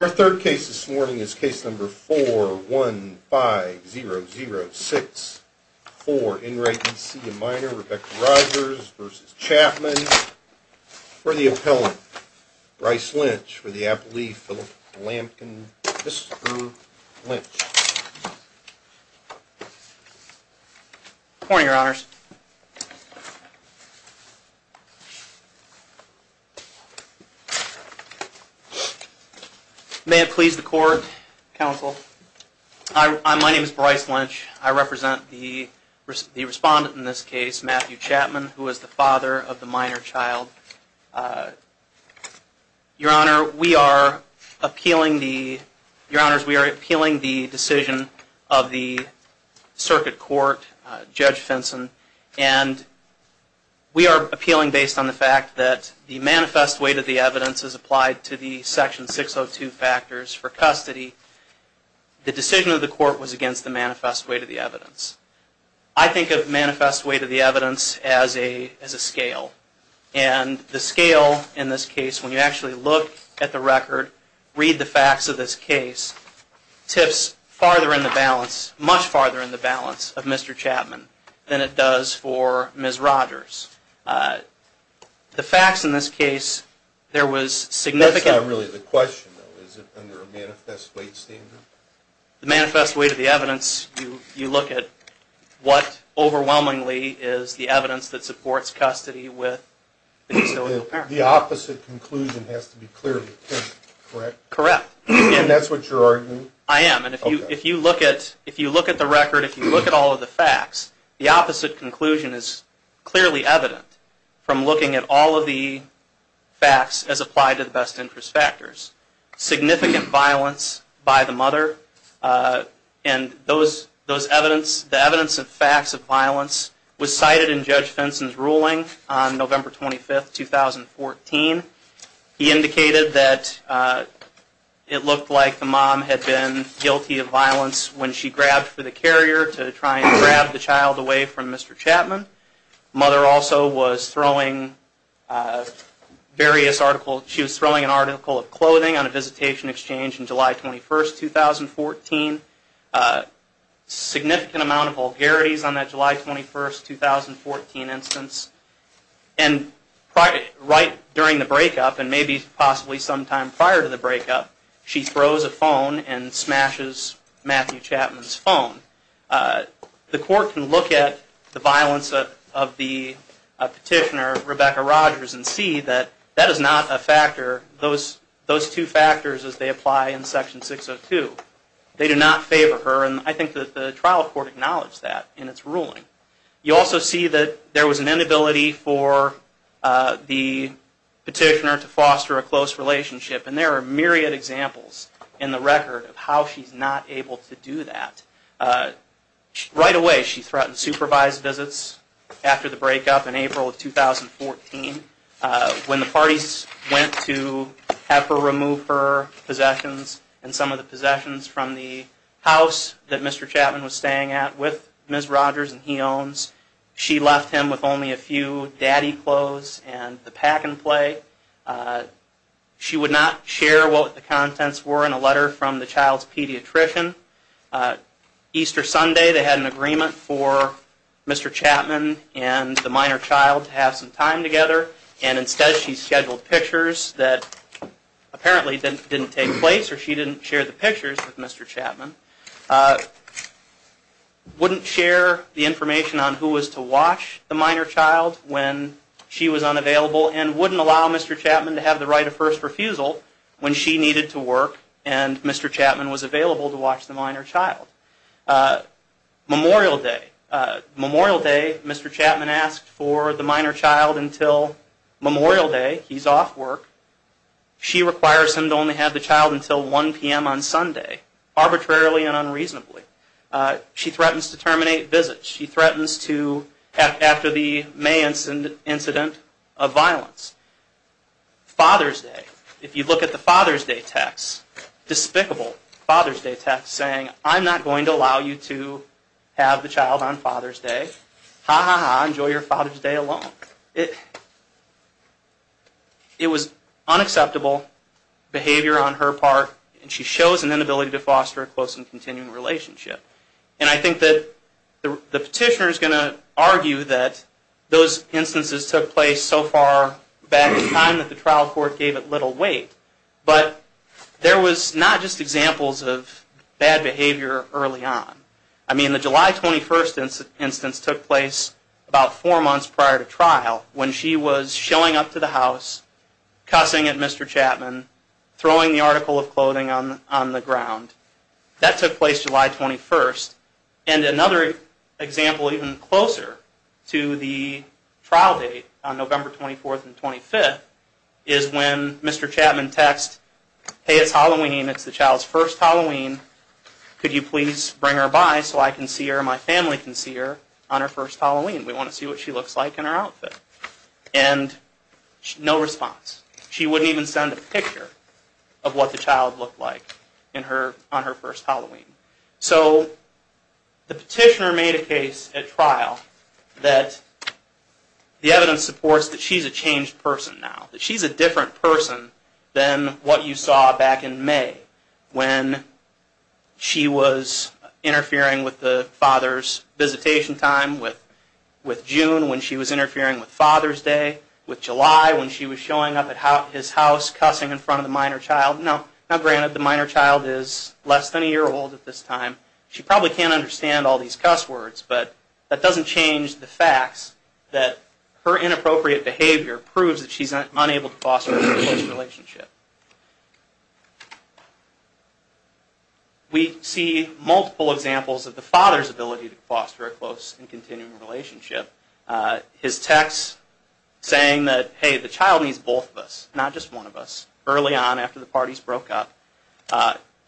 Our third case this morning is case number 415006 for Enright, E.C. and Minor, Rebecca Rogers v. Chapman for the appellant, Bryce Lynch for the appellee, Phillip Lampkin, Mr. Lynch. Morning, your honors. May it please the court, counsel. My name is Bryce Lynch. I represent the respondent in this case, Matthew Chapman, who is the father of the minor child. Your honors, we are appealing the decision of the circuit court, Judge Fenson, and we are appealing based on the fact that the manifest weight of the evidence is applied to the section 602 factors for custody. The decision of the court was against the manifest weight of the evidence. I think of manifest weight of the evidence as a scale, and the scale in this case, when you actually look at the record, read the facts of this case, tips farther in the balance, much farther in the balance of Mr. Chapman than it does for Ms. Rogers. The facts in this case, there was significant... That's not really the question, though. Is it under a manifest weight standard? The manifest weight of the evidence, you look at what overwhelmingly is the evidence that supports custody with... The opposite conclusion has to be clearly pinned, correct? Correct. And that's what you're arguing? I am, and if you look at the record, if you look at all of the facts, the opposite conclusion is clearly evident from looking at all of the facts as applied to the best interest factors. There was significant violence by the mother, and the evidence of facts of violence was cited in Judge Fenton's ruling on November 25, 2014. He indicated that it looked like the mom had been guilty of violence when she grabbed for the carrier to try and grab the child away from Mr. Chapman. Mother also was throwing various articles, she was throwing an article of clothing on a visitation exchange on July 21, 2014. Significant amount of vulgarities on that July 21, 2014 instance. And right during the breakup, and maybe possibly sometime prior to the breakup, she throws a phone and smashes Matthew Chapman's phone. The court can look at the violence of the petitioner, Rebecca Rogers, and see that that is not a factor, those two factors as they apply in Section 602. They do not favor her, and I think that the trial court acknowledged that in its ruling. You also see that there was an inability for the petitioner to foster a close relationship, and there are myriad examples in the record of how she's not able to do that. Right away she threatened supervised visits after the breakup in April of 2014. When the parties went to have her remove her possessions and some of the possessions from the house that Mr. Chapman was staying at with Ms. Rogers and he owns, she left him with only a few daddy clothes and the pack and play. She would not share what the contents were in a letter from the child's pediatrician. Easter Sunday they had an agreement for Mr. Chapman and the minor child to have some time together, and instead she scheduled pictures that apparently didn't take place, or she didn't share the pictures with Mr. Chapman. She wouldn't share the information on who was to watch the minor child when she was unavailable, and wouldn't allow Mr. Chapman to have the right of first refusal when she needed to work and Mr. Chapman was available to watch the minor child. Memorial Day, Mr. Chapman asked for the minor child until Memorial Day, he's off work. She requires him to only have the child until 1 p.m. on Sunday, arbitrarily and unreasonably. She threatens to terminate visits, she threatens to, after the May incident of violence. Father's Day, if you look at the Father's Day text, despicable Father's Day text saying, I'm not going to allow you to have the child on Father's Day, ha ha ha, enjoy your Father's Day alone. It was unacceptable behavior on her part, and she shows an inability to foster a close and continuing relationship. And I think that the petitioner is going to argue that those instances took place so far back in time that the trial court gave it little weight, but there was not just examples of bad behavior early on. I mean, the July 21st instance took place about four months prior to trial when she was showing up to the house, cussing at Mr. Chapman, throwing the article of clothing on the ground. That took place July 21st, and another example even closer to the trial date on November 24th and 25th is when Mr. Chapman texts, hey it's Halloween, it's the child's first Halloween, could you please bring her by so I can see her and my family can see her on her first Halloween? We want to see what she looks like in her outfit. And no response. She wouldn't even send a picture of what the child looked like on her first Halloween. So the petitioner made a case at trial that the evidence supports that she's a changed person now, that she's a different person than what you saw back in May when she was interfering with the father's visitation time, with June when she was interfering with Father's Day, with July when she was showing up at his house cussing in front of the minor child. Now granted, the minor child is less than a year old at this time, she probably can't understand all these cuss words, but that doesn't change the facts that her inappropriate behavior proves that she's unable to foster a close relationship. We see multiple examples of the father's ability to foster a close and continuing relationship. His text saying that, hey the child needs both of us, not just one of us, early on after the parties broke up.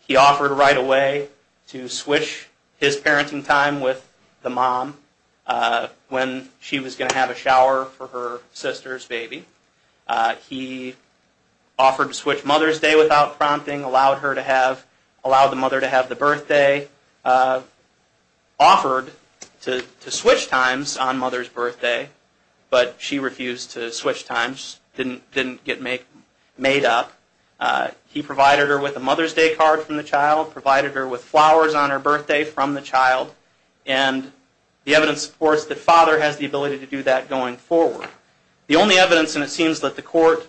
He offered right away to switch his parenting time with the mom when she was going to have a shower for her sister's baby. He offered to switch Mother's Day without prompting, allowed the mother to have the birthday, offered to switch times on Mother's Birthday, but she refused to switch times, didn't get made up. He provided her with a Mother's Day card from the child, provided her with flowers on her birthday from the child, and the evidence supports that father has the ability to do that going forward. The only evidence, and it seems that the court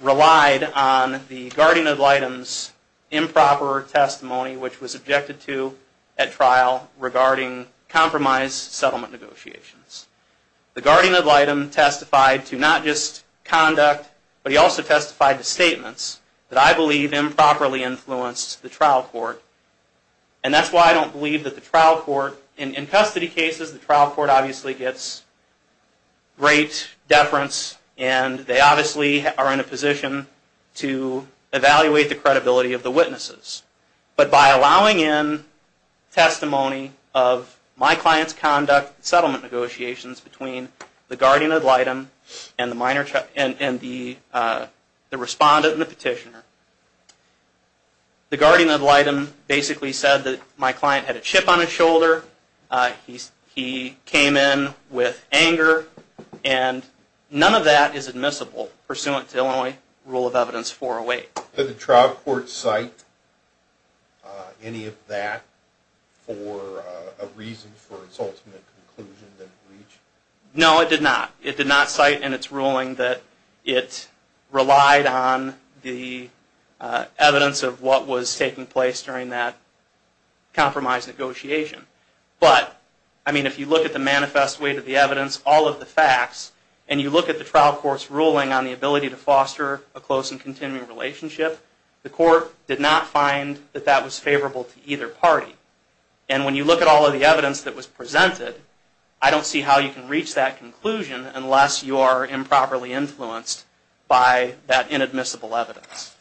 relied on the guardian ad litem's improper testimony, which was objected to at trial regarding compromise settlement negotiations. The guardian ad litem testified to not just conduct, but he also testified to statements that I believe improperly influenced the trial court. And that's why I don't believe that the trial court, in custody cases the trial court obviously gets great deference and they obviously are in a position to evaluate the credibility of the witnesses. But by allowing in testimony of my client's conduct in settlement negotiations between the guardian ad litem and the respondent and the petitioner, the guardian ad litem basically said that my client had a chip on his shoulder, he came in with anger, and none of that is admissible pursuant to Illinois Rule of Evidence 408. Did the trial court cite any of that for a reason for its ultimate conclusion that it reached? No, it did not. It did not cite in its ruling that it relied on the evidence of what was taking place during that compromise negotiation. But, I mean, if you look at the manifest weight of the evidence, all of the facts, and you look at the trial court's ruling on the ability to foster a close and continuing relationship, the court did not find that that was favorable to either party. And when you look at all of the evidence that was presented, I don't see how you can reach that conclusion unless you are improperly influenced by that inadmissible evidence.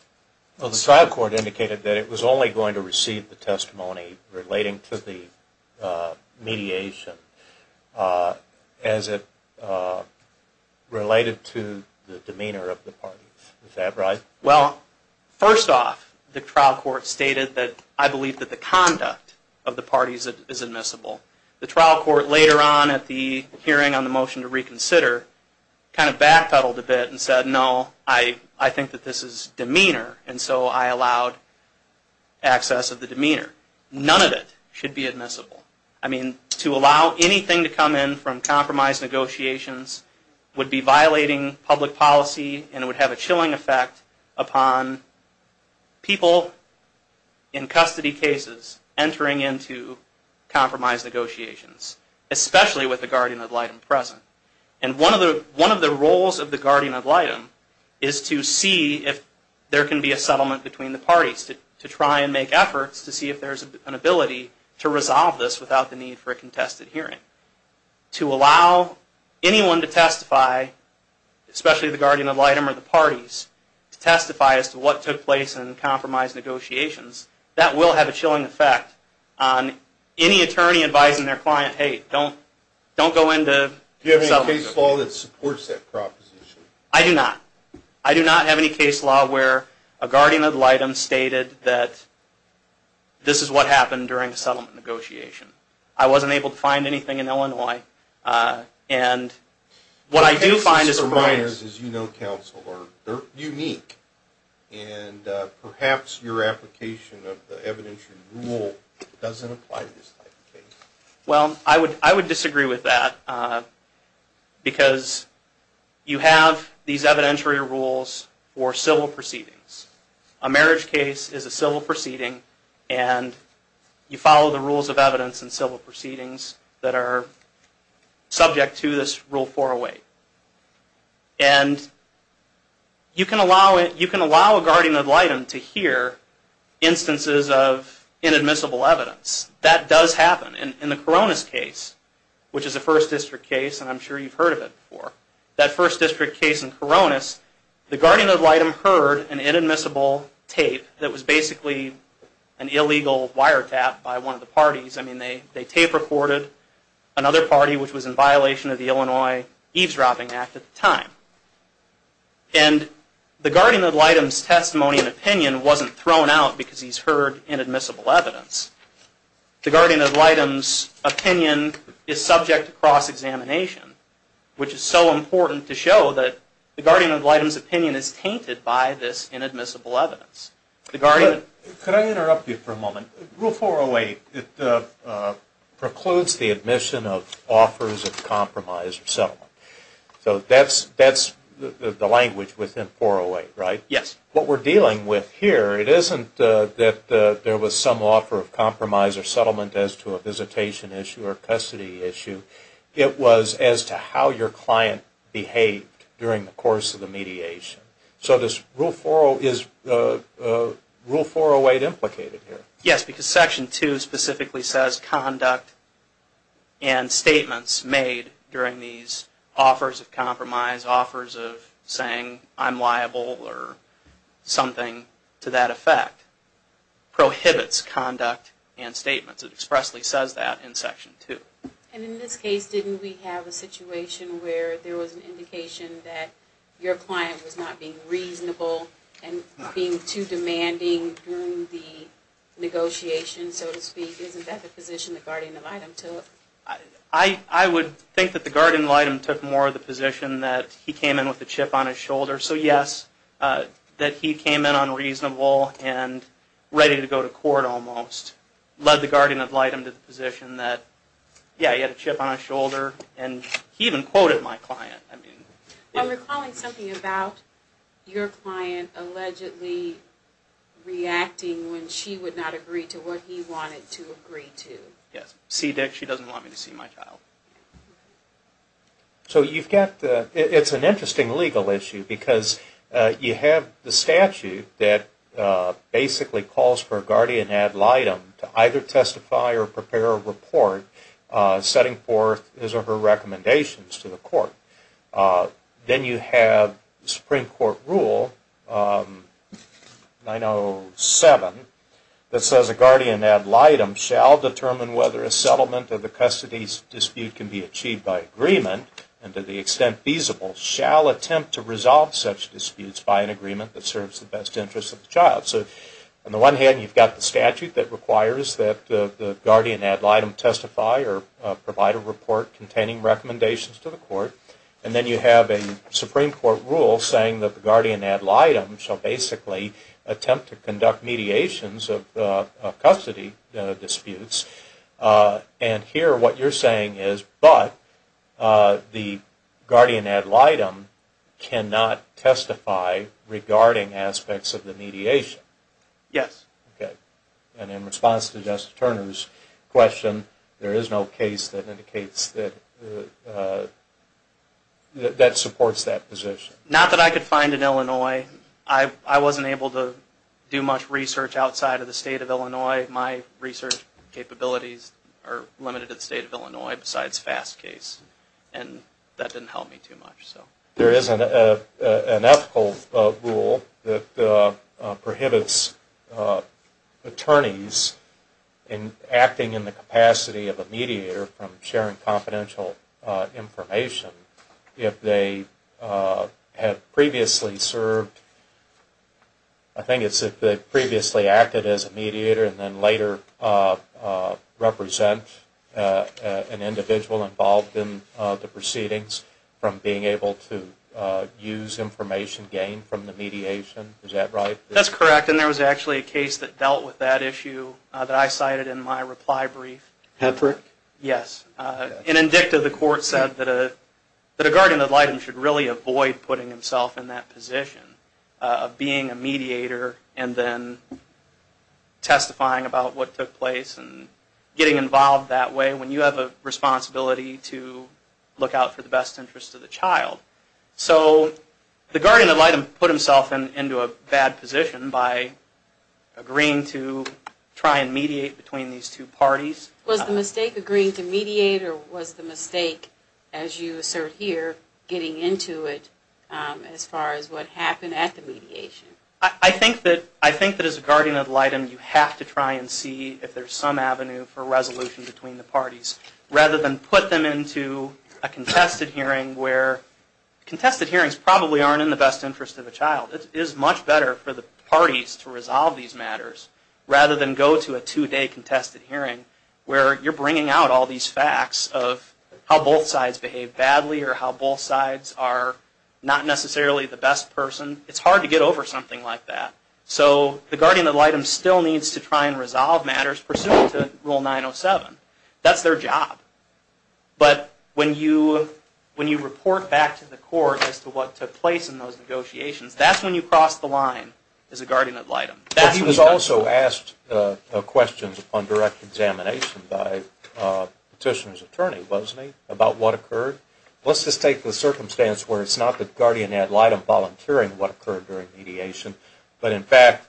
Well, the trial court indicated that it was only going to receive the testimony relating to the mediation as it related to the demeanor of the parties. Is that right? Well, first off, the trial court stated that I believe that the conduct of the parties is admissible. The trial court later on at the hearing on the motion to reconsider kind of backpedaled a bit and said, no, I think that this is demeanor, and so I allowed access of the demeanor. None of it should be admissible. I mean, to allow anything to come in from compromise negotiations would be violating public policy and would have a chilling effect upon people in custody cases entering into compromise negotiations, especially with the guardian ad litem present. And one of the roles of the guardian ad litem is to see if there can be a settlement between the parties, to try and make efforts to see if there's an ability to resolve this without the need for a contested hearing. To allow anyone to testify, especially the guardian ad litem or the parties, to testify as to what took place in compromise negotiations, that will have a chilling effect on any attorney advising their client, hey, don't go into... Do you have any case law that supports that proposition? I do not. I do not have any case law where a guardian ad litem stated that this is what happened during the settlement negotiation. I wasn't able to find anything in Illinois, and what I do find is... Counselors, as you know, counsel, are unique, and perhaps your application of the evidentiary rule doesn't apply to this type of case. Well, I would disagree with that. Because you have these evidentiary rules for civil proceedings. A marriage case is a civil proceeding, and you follow the rules of evidence in civil proceedings that are subject to this Rule 408. And you can allow a guardian ad litem to hear instances of inadmissible evidence. That does happen. In the Koronis case, which is a First District case, and I'm sure you've heard of it before, that First District case in Koronis, the guardian ad litem heard an inadmissible tape that was basically an illegal wiretap by one of the parties. I mean, they tape recorded another party, which was in violation of the Illinois Eavesdropping Act at the time. And the guardian ad litem's testimony and opinion wasn't thrown out because he's heard inadmissible evidence. The guardian ad litem's opinion is subject to cross-examination, which is so important to show that the guardian ad litem's opinion is tainted by this inadmissible evidence. Could I interrupt you for a moment? Rule 408 precludes the admission of offers of compromise or settlement. So that's the language within 408, right? Yes. What we're dealing with here, it isn't that there was some offer of compromise or settlement as to a visitation issue or custody issue. It was as to how your client behaved during the course of the mediation. So this Rule 408 is implicated here. Yes, because Section 2 specifically says conduct and statements made during these offers of compromise, offers of saying I'm liable or something to that effect, prohibits conduct and statements. It expressly says that in Section 2. And in this case, didn't we have a situation where there was an indication that your client was not being reasonable and being too demanding during the negotiation, so to speak? Isn't that the position the guardian ad litem took? I would think that the guardian ad litem took more of the position that he came in with a chip on his shoulder. So yes, that he came in unreasonable and ready to go to court almost, led the guardian ad litem to the position that, yeah, he had a chip on his shoulder, and he even quoted my client. I'm recalling something about your client allegedly reacting when she would not agree to what he wanted to agree to. Yes. See Dick, she doesn't want me to see my child. So you've got the, it's an interesting legal issue because you have the statute that basically calls for a guardian ad litem to either testify or prepare a report setting forth his or her recommendations to the court. Then you have the Supreme Court rule, 907, that says a guardian ad litem shall determine whether a settlement or the custody dispute can be achieved by agreement, and to the extent feasible, shall attempt to resolve such disputes by an agreement that serves the best interest of the child. So on the one hand, you've got the statute that requires that the guardian ad litem testify or provide a report containing recommendations to the court. And then you have a Supreme Court rule saying that the guardian ad litem shall basically attempt to conduct mediations of custody disputes. And here what you're saying is, but the guardian ad litem cannot testify regarding aspects of the mediation. Yes. And in response to Justice Turner's question, there is no case that indicates that, that supports that position. Not that I could find in Illinois. I wasn't able to do much research outside of the state of Illinois. My research capabilities are limited to the state of Illinois besides FAST case, and that didn't help me too much. There is an ethical rule that prohibits attorneys acting in the capacity of a mediator from sharing confidential information if they have previously served, I think it's if they've previously acted as a mediator and then later represent an individual involved in the proceedings from being able to use information gained from the mediation. Is that right? That's correct, and there was actually a case that dealt with that issue that I cited in my reply brief. Hedford? Yes. In Indicta, the court said that a guardian ad litem should really avoid putting himself in that position of being a mediator and then testifying about what took place and getting involved that way when you have a responsibility to look out for the best interest of the child. So the guardian ad litem put himself into a bad position by agreeing to try and mediate between these two parties. Was the mistake agreeing to mediate or was the mistake, as you assert here, getting into it as far as what happened at the mediation? I think that as a guardian ad litem you have to try and see if there's some avenue for resolution between the parties rather than put them into a contested hearing where contested hearings probably aren't in the best interest of the child. It is much better for the parties to resolve these matters rather than go to a two-day contested hearing where you're bringing out all these facts of how both sides behave badly or how both sides are not necessarily the best person. It's hard to get over something like that. So the guardian ad litem still needs to try and resolve matters pursuant to Rule 907. That's their job. But when you report back to the court as to what took place in those negotiations, that's when you cross the line as a guardian ad litem. He was also asked questions upon direct examination by the petitioner's attorney, wasn't he, about what occurred? Let's just take the circumstance where it's not the guardian ad litem volunteering what occurred during mediation, but in fact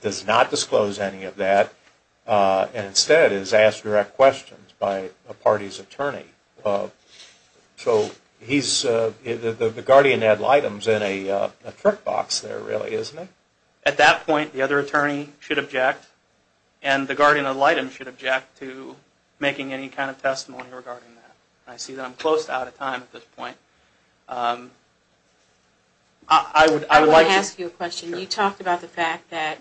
does not disclose any of that and instead is asked direct questions by a party's attorney. So the guardian ad litem is in a trick box there really, isn't it? At that point the other attorney should object and the guardian ad litem should object to making any kind of testimony regarding that. I see that I'm close to out of time at this point. I would like to ask you a question. You talked about the fact that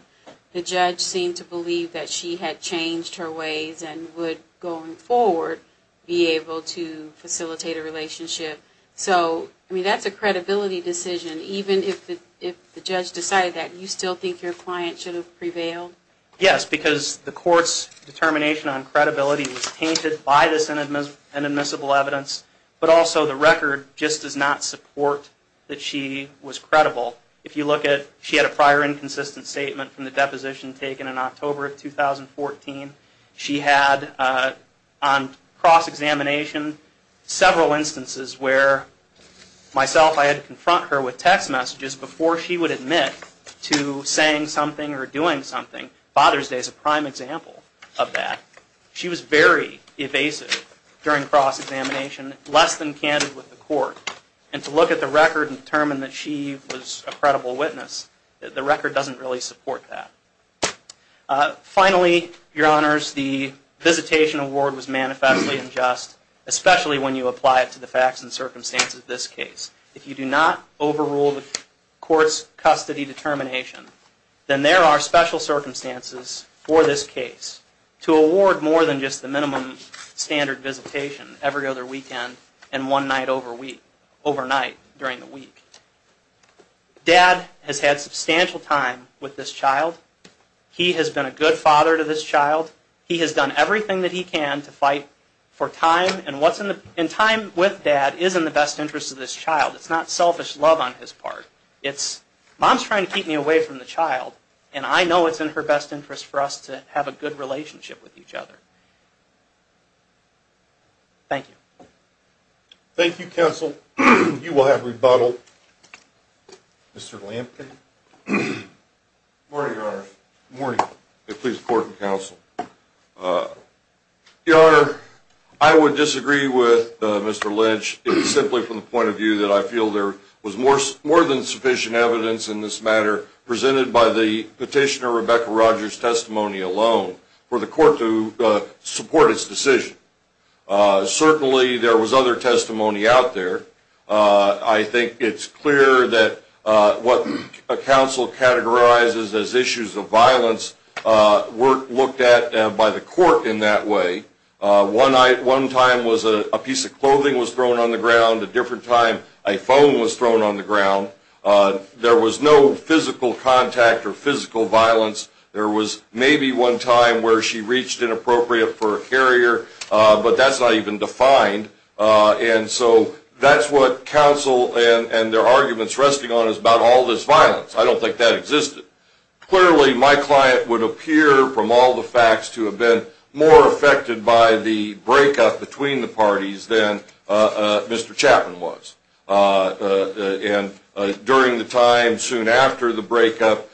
the judge seemed to believe that she had changed her ways and would, going forward, be able to facilitate a relationship. So that's a credibility decision. Even if the judge decided that, do you still think your client should have prevailed? Yes, because the court's determination on credibility was tainted by this inadmissible evidence. But also the record just does not support that she was credible. If you look at, she had a prior inconsistent statement from the deposition taken in October of 2014. She had, on cross-examination, several instances where, myself, I had to confront her with text messages before she would admit to saying something or doing something. Father's Day is a prime example of that. She was very evasive during cross-examination, less than candid with the court. And to look at the record and determine that she was a credible witness, the record doesn't really support that. Finally, your honors, the visitation award was manifestly unjust, especially when you apply it to the facts and circumstances of this case. If you do not overrule the court's custody determination, then there are special circumstances for this case. To award more than just the minimum standard visitation every other weekend and one night overnight during the week. Dad has had substantial time with this child. He has been a good father to this child. He has done everything that he can to fight for time, and time with dad is in the best interest of this child. It's not selfish love on his part. It's, mom's trying to keep me away from the child, and I know it's in her best interest for us to have a good relationship with each other. Thank you. Thank you, counsel. You will have rebuttal. Mr. Lampkin. Good morning, your honors. Good morning. Please, court and counsel. Your honor, I would disagree with Mr. Lynch simply from the point of view that I feel there was more than sufficient evidence in this matter presented by the petitioner Rebecca Rogers' testimony alone for the court to support its decision. Certainly, there was other testimony out there. I think it's clear that what a counsel categorizes as issues of violence were looked at by the court in that way. One time was a piece of clothing was thrown on the ground, a different time a phone was thrown on the ground. There was no physical contact or physical violence. There was maybe one time where she reached inappropriate for a carrier, but that's not even defined. And so that's what counsel and their arguments resting on is about all this violence. I don't think that existed. Clearly, my client would appear from all the facts to have been more affected by the breakup between the parties than Mr. Chapman was. And during the time soon after the breakup,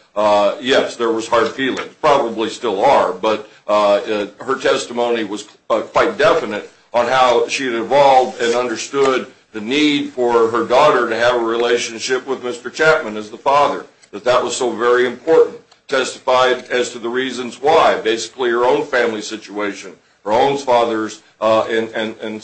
yes, there was hard feelings, probably still are, but her testimony was quite definite on how she had evolved and understood the need for her daughter to have a relationship with Mr. Chapman as the father, that that was so very important, testified as to the reasons why, basically her own family situation, her own father's and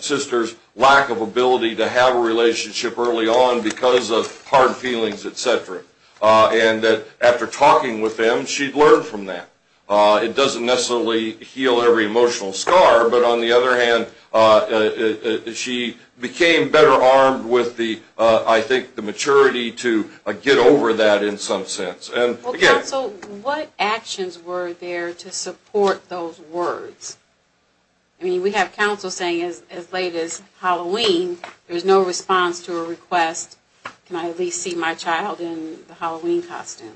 sister's lack of ability to have a relationship early on because of hard feelings, et cetera, and that after talking with them, she'd learned from that. It doesn't necessarily heal every emotional scar, but on the other hand, she became better armed with the, I think, the maturity to get over that in some sense. Well, counsel, what actions were there to support those words? I mean, we have counsel saying as late as Halloween, there's no response to a request, can I at least see my child in the Halloween costume?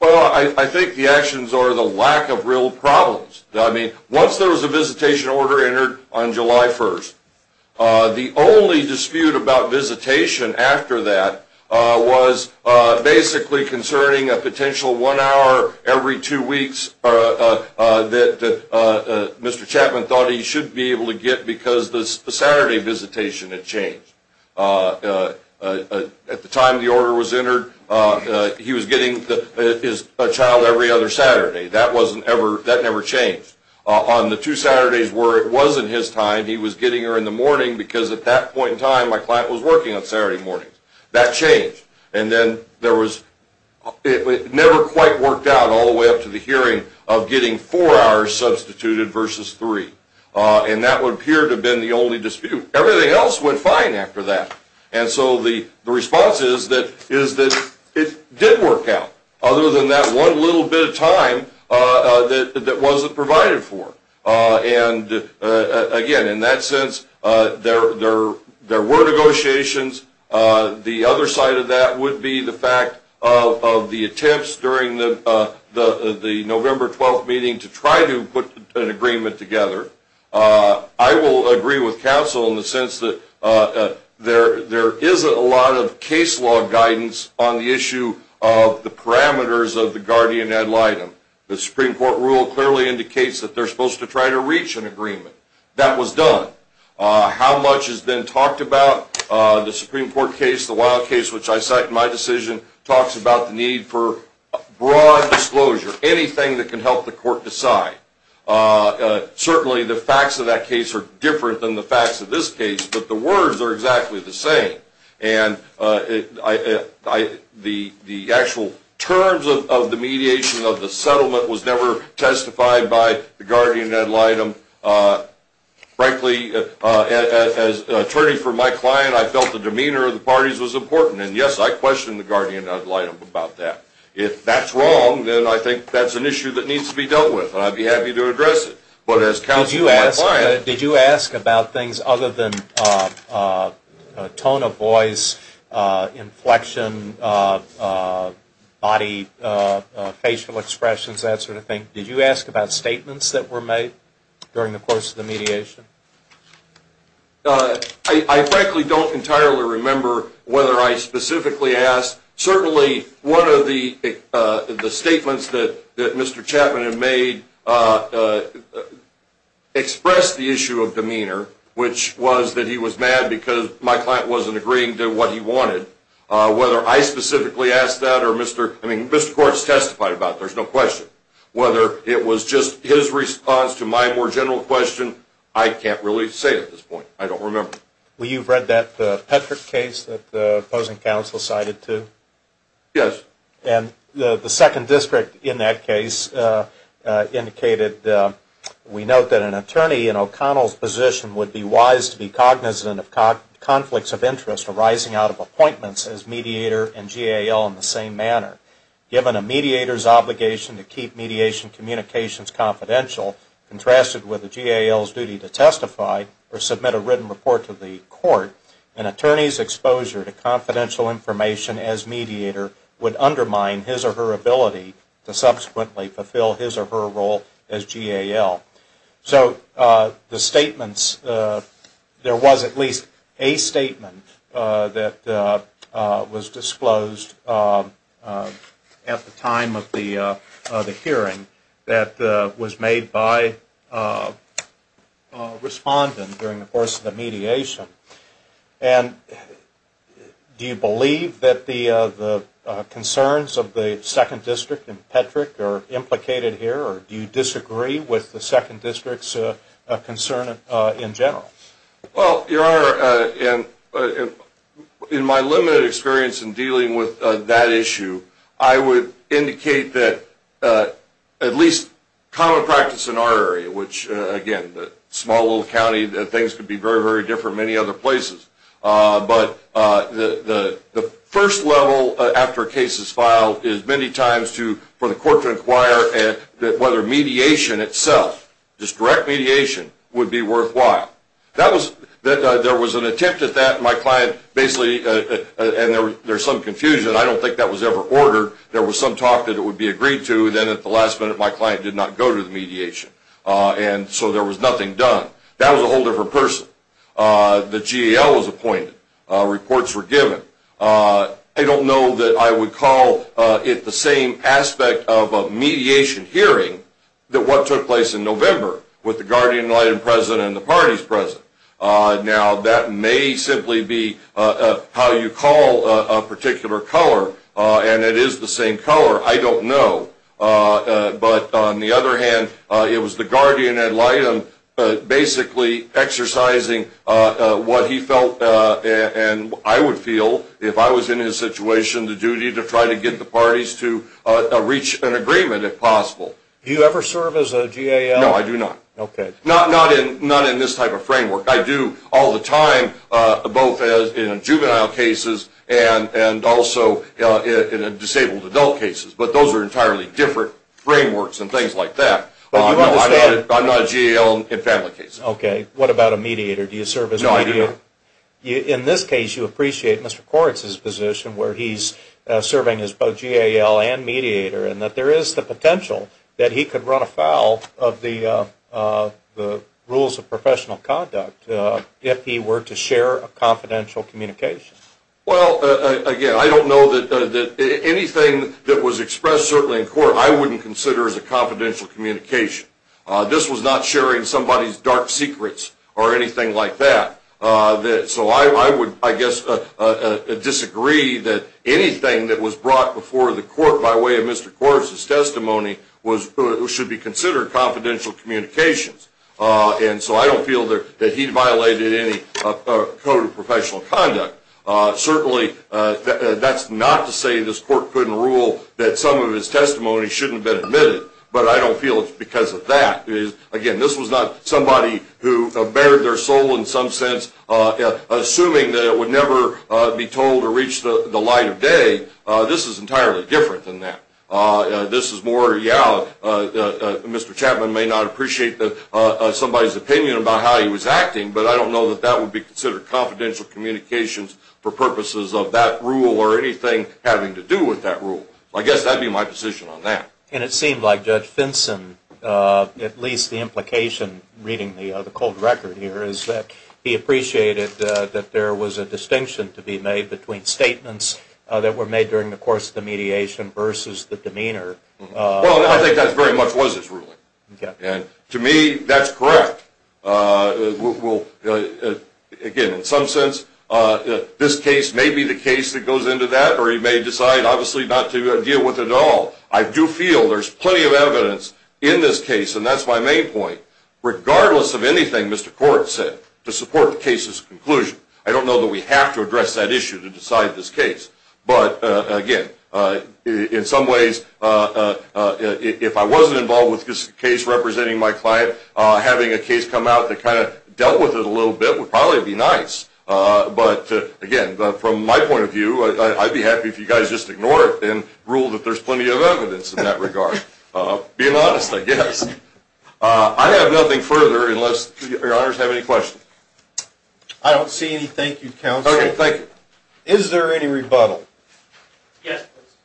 Well, I think the actions are the lack of real problems. I mean, once there was a visitation order entered on July 1st, the only dispute about visitation after that was basically concerning a potential one hour every two weeks that Mr. Chapman thought he should be able to get because the Saturday visitation had changed. At the time the order was entered, he was getting his child every other Saturday. That never changed. On the two Saturdays where it wasn't his time, he was getting her in the morning because at that point in time my client was working on Saturday mornings. That changed. And then there was, it never quite worked out all the way up to the hearing of getting four hours substituted versus three. And that would appear to have been the only dispute. Everything else went fine after that. And so the response is that it did work out, other than that one little bit of time that wasn't provided for. And again, in that sense, there were negotiations. The other side of that would be the fact of the attempts during the November 12th meeting to try to put an agreement together. I will agree with counsel in the sense that there isn't a lot of case law guidance on the issue of the parameters of the guardian ad litem. The Supreme Court rule clearly indicates that they're supposed to try to reach an agreement. That was done. How much has been talked about? The Supreme Court case, the Wilde case, which I cite in my decision, talks about the need for broad disclosure. Anything that can help the court decide. Certainly the facts of that case are different than the facts of this case, but the words are exactly the same. And the actual terms of the mediation of the settlement was never testified by the guardian ad litem. Frankly, as an attorney for my client, I felt the demeanor of the parties was important. And yes, I questioned the guardian ad litem about that. If that's wrong, then I think that's an issue that needs to be dealt with. And I'd be happy to address it. But as counsel of my client... Did you ask about things other than tone of voice, inflection, body, facial expressions, that sort of thing? Did you ask about statements that were made during the course of the mediation? I frankly don't entirely remember whether I specifically asked. Certainly one of the statements that Mr. Chapman had made expressed the issue of demeanor, which was that he was mad because my client wasn't agreeing to what he wanted. Whether I specifically asked that or Mr. Courts testified about it, there's no question. Whether it was just his response to my more general question, I can't really say at this point. I don't remember. Well, you've read that Petrick case that the opposing counsel cited too? Yes. And the second district in that case indicated, we note that an attorney in O'Connell's position would be wise to be cognizant of conflicts of interest arising out of appointments as mediator and GAL in the same manner. Given a mediator's obligation to keep mediation communications confidential, contrasted with the GAL's duty to testify or submit a written report to the court, an attorney's exposure to confidential information as mediator would undermine his or her ability to subsequently fulfill his or her role as GAL. So the statements, there was at least a statement that was disclosed at the time of the hearing that was made by a respondent during the course of the mediation. And do you believe that the concerns of the second district in Petrick are implicated here or do you disagree with the second district's concern in general? Well, Your Honor, in my limited experience in dealing with that issue, I would indicate that at least common practice in our area, which again, a small little county, things could be very, very different in many other places. But the first level after a case is filed is many times for the court to inquire whether mediation itself, just direct mediation, would be worthwhile. There was an attempt at that. My client basically, and there's some confusion. I don't think that was ever ordered. There was some talk that it would be agreed to. Then at the last minute, my client did not go to the mediation. And so there was nothing done. That was a whole different person. The GAL was appointed. Reports were given. I don't know that I would call it the same aspect of a mediation hearing that what took place in November with the guardian light and president and the parties present. Now, that may simply be how you call a particular color. And it is the same color. I don't know. But on the other hand, it was the guardian at light basically exercising what he felt. And I would feel, if I was in his situation, the duty to try to get the parties to reach an agreement if possible. Do you ever serve as a GAL? No, I do not. Okay. Not in this type of framework. I do all the time, both in juvenile cases and also in disabled adult cases. But those are entirely different frameworks and things like that. I'm not a GAL in family cases. Okay. What about a mediator? Do you serve as a mediator? No, I do not. In this case, you appreciate Mr. Koretz's position where he's serving as both GAL and mediator and that there is the potential that he could run afoul of the rules of professional conduct if he were to share a confidential communication. Well, again, I don't know that anything that was expressed, certainly in court, I wouldn't consider as a confidential communication. This was not sharing somebody's dark secrets or anything like that. So I would, I guess, disagree that anything that was brought before the court by way of Mr. Koretz's testimony should be considered confidential communications. And so I don't feel that he violated any code of professional conduct. Certainly, that's not to say this court couldn't rule that some of his testimony shouldn't have been admitted. But I don't feel it's because of that. Again, this was not somebody who bared their soul in some sense, assuming that it would never be told or reach the light of day. This is entirely different than that. This is more, yeah, Mr. Chapman may not appreciate somebody's opinion about how he was acting, but I don't know that that would be considered confidential communications for purposes of that rule or anything having to do with that rule. I guess that would be my position on that. And it seemed like Judge Finson, at least the implication reading the cold record here, is that he appreciated that there was a distinction to be made between statements that were made during the course of the mediation versus the demeanor. Well, I think that very much was his ruling. To me, that's correct. Again, in some sense, this case may be the case that goes into that, or he may decide, obviously, not to deal with it at all. I do feel there's plenty of evidence in this case, and that's my main point. Regardless of anything Mr. Court said to support the case's conclusion, I don't know that we have to address that issue to decide this case. But, again, in some ways, if I wasn't involved with this case representing my client, having a case come out that kind of dealt with it a little bit would probably be nice. But, again, from my point of view, I'd be happy if you guys just ignored it and ruled that there's plenty of evidence in that regard. Being honest, I guess. I have nothing further unless your honors have any questions. I don't see any. Thank you, counsel. Okay, thank you. Is there any rebuttal? Yes, please.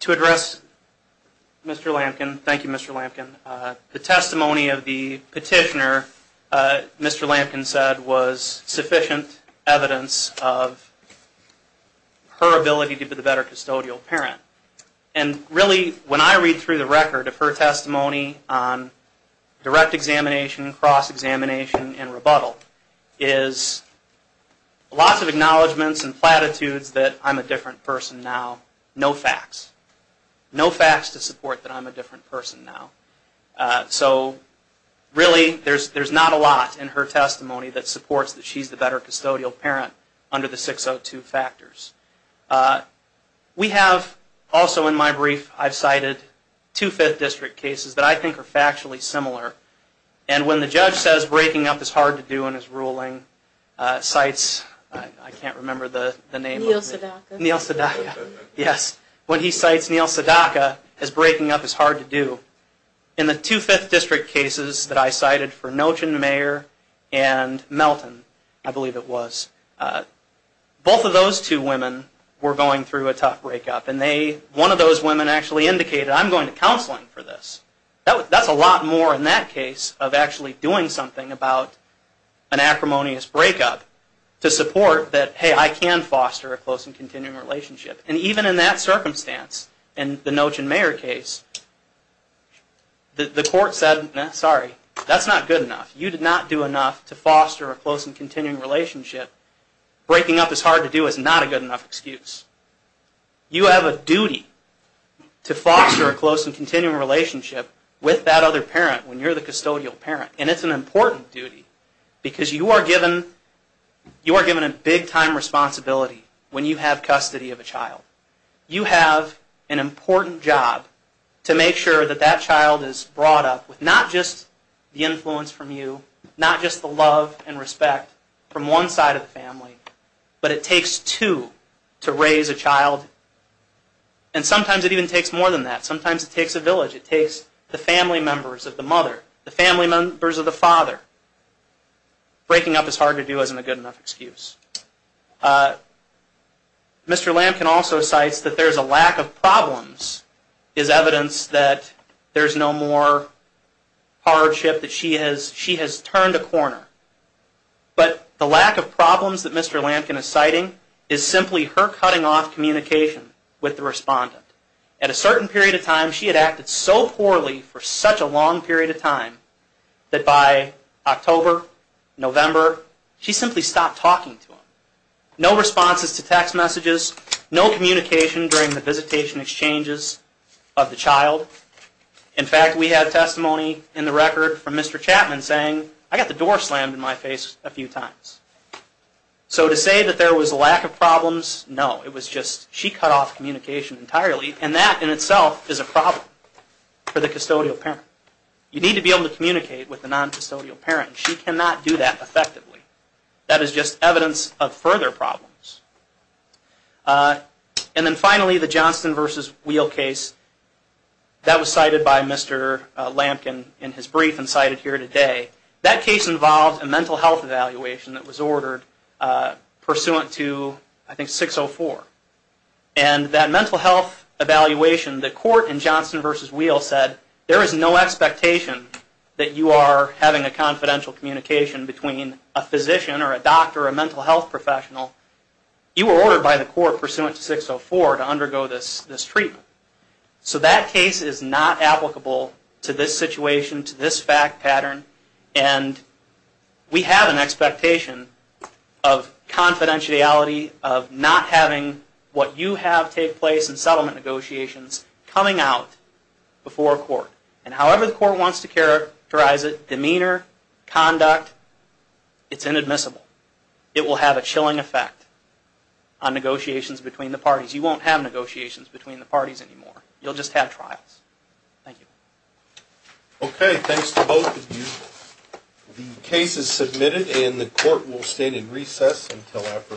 To address Mr. Lampkin, thank you, Mr. Lampkin. The testimony of the petitioner, Mr. Lampkin said, was sufficient evidence of her ability to be the better custodial parent. And really, when I read through the record of her testimony on direct examination, cross-examination, and rebuttal, is lots of acknowledgments and platitudes that I'm a different person now. No facts. No facts to support that I'm a different person now. So, really, there's not a lot in her testimony that supports that she's the better custodial parent under the 602 factors. We have, also in my brief, I've cited two Fifth District cases that I think are factually similar. And when the judge says breaking up is hard to do in his ruling, cites, I can't remember the name. Neil Sadaka. Neil Sadaka. Yes. When he cites Neil Sadaka as breaking up is hard to do. In the two Fifth District cases that I cited for Noach and Mayer and Melton, I believe it was, both of those two women were going through a tough breakup. And one of those women actually indicated, I'm going to counseling for this. That's a lot more in that case of actually doing something about an acrimonious breakup to support that, hey, I can foster a close and continuing relationship. And even in that circumstance, in the Noach and Mayer case, the court said, sorry, that's not good enough. You did not do enough to foster a close and continuing relationship. Breaking up is hard to do is not a good enough excuse. You have a duty to foster a close and continuing relationship with that other parent when you're the custodial parent. And it's an important duty because you are given a big-time responsibility when you have custody of a child. You have an important job to make sure that that child is brought up with not just the influence from you, not just the love and respect from one side of the family, but it takes two to raise a child. And sometimes it even takes more than that. Sometimes it takes a village. It takes the family members of the mother, the family members of the father. Breaking up is hard to do isn't a good enough excuse. Mr. Lampkin also cites that there's a lack of problems, is evidence that there's no more hardship, that she has turned a corner. But the lack of problems that Mr. Lampkin is citing is simply her cutting off communication with the respondent. At a certain period of time, she had acted so poorly for such a long period of time that by October, November, she simply stopped talking to him. No responses to text messages, no communication during the visitation exchanges of the child. In fact, we have testimony in the record from Mr. Chapman saying, I got the door slammed in my face a few times. So to say that there was a lack of problems, no. It was just she cut off communication entirely, and that in itself is a problem for the custodial parent. You need to be able to communicate with the non-custodial parent. She cannot do that effectively. That is just evidence of further problems. And then finally, the Johnston v. Wheel case, that was cited by Mr. Lampkin in his brief and cited here today. That case involved a mental health evaluation that was ordered pursuant to, I think, 604. And that mental health evaluation, the court in Johnston v. Wheel said, there is no expectation that you are having a confidential communication between a physician or a doctor or a mental health professional. You were ordered by the court pursuant to 604 to undergo this treatment. So that case is not applicable to this situation, to this fact pattern. And we have an expectation of confidentiality, of not having what you have take place in settlement negotiations coming out before a court. And however the court wants to characterize it, demeanor, conduct, it's inadmissible. It will have a chilling effect on negotiations between the parties. You won't have negotiations between the parties anymore. You'll just have trials. Thank you. Okay, thanks to both of you. The case is submitted and the court will stand in recess until after lunch.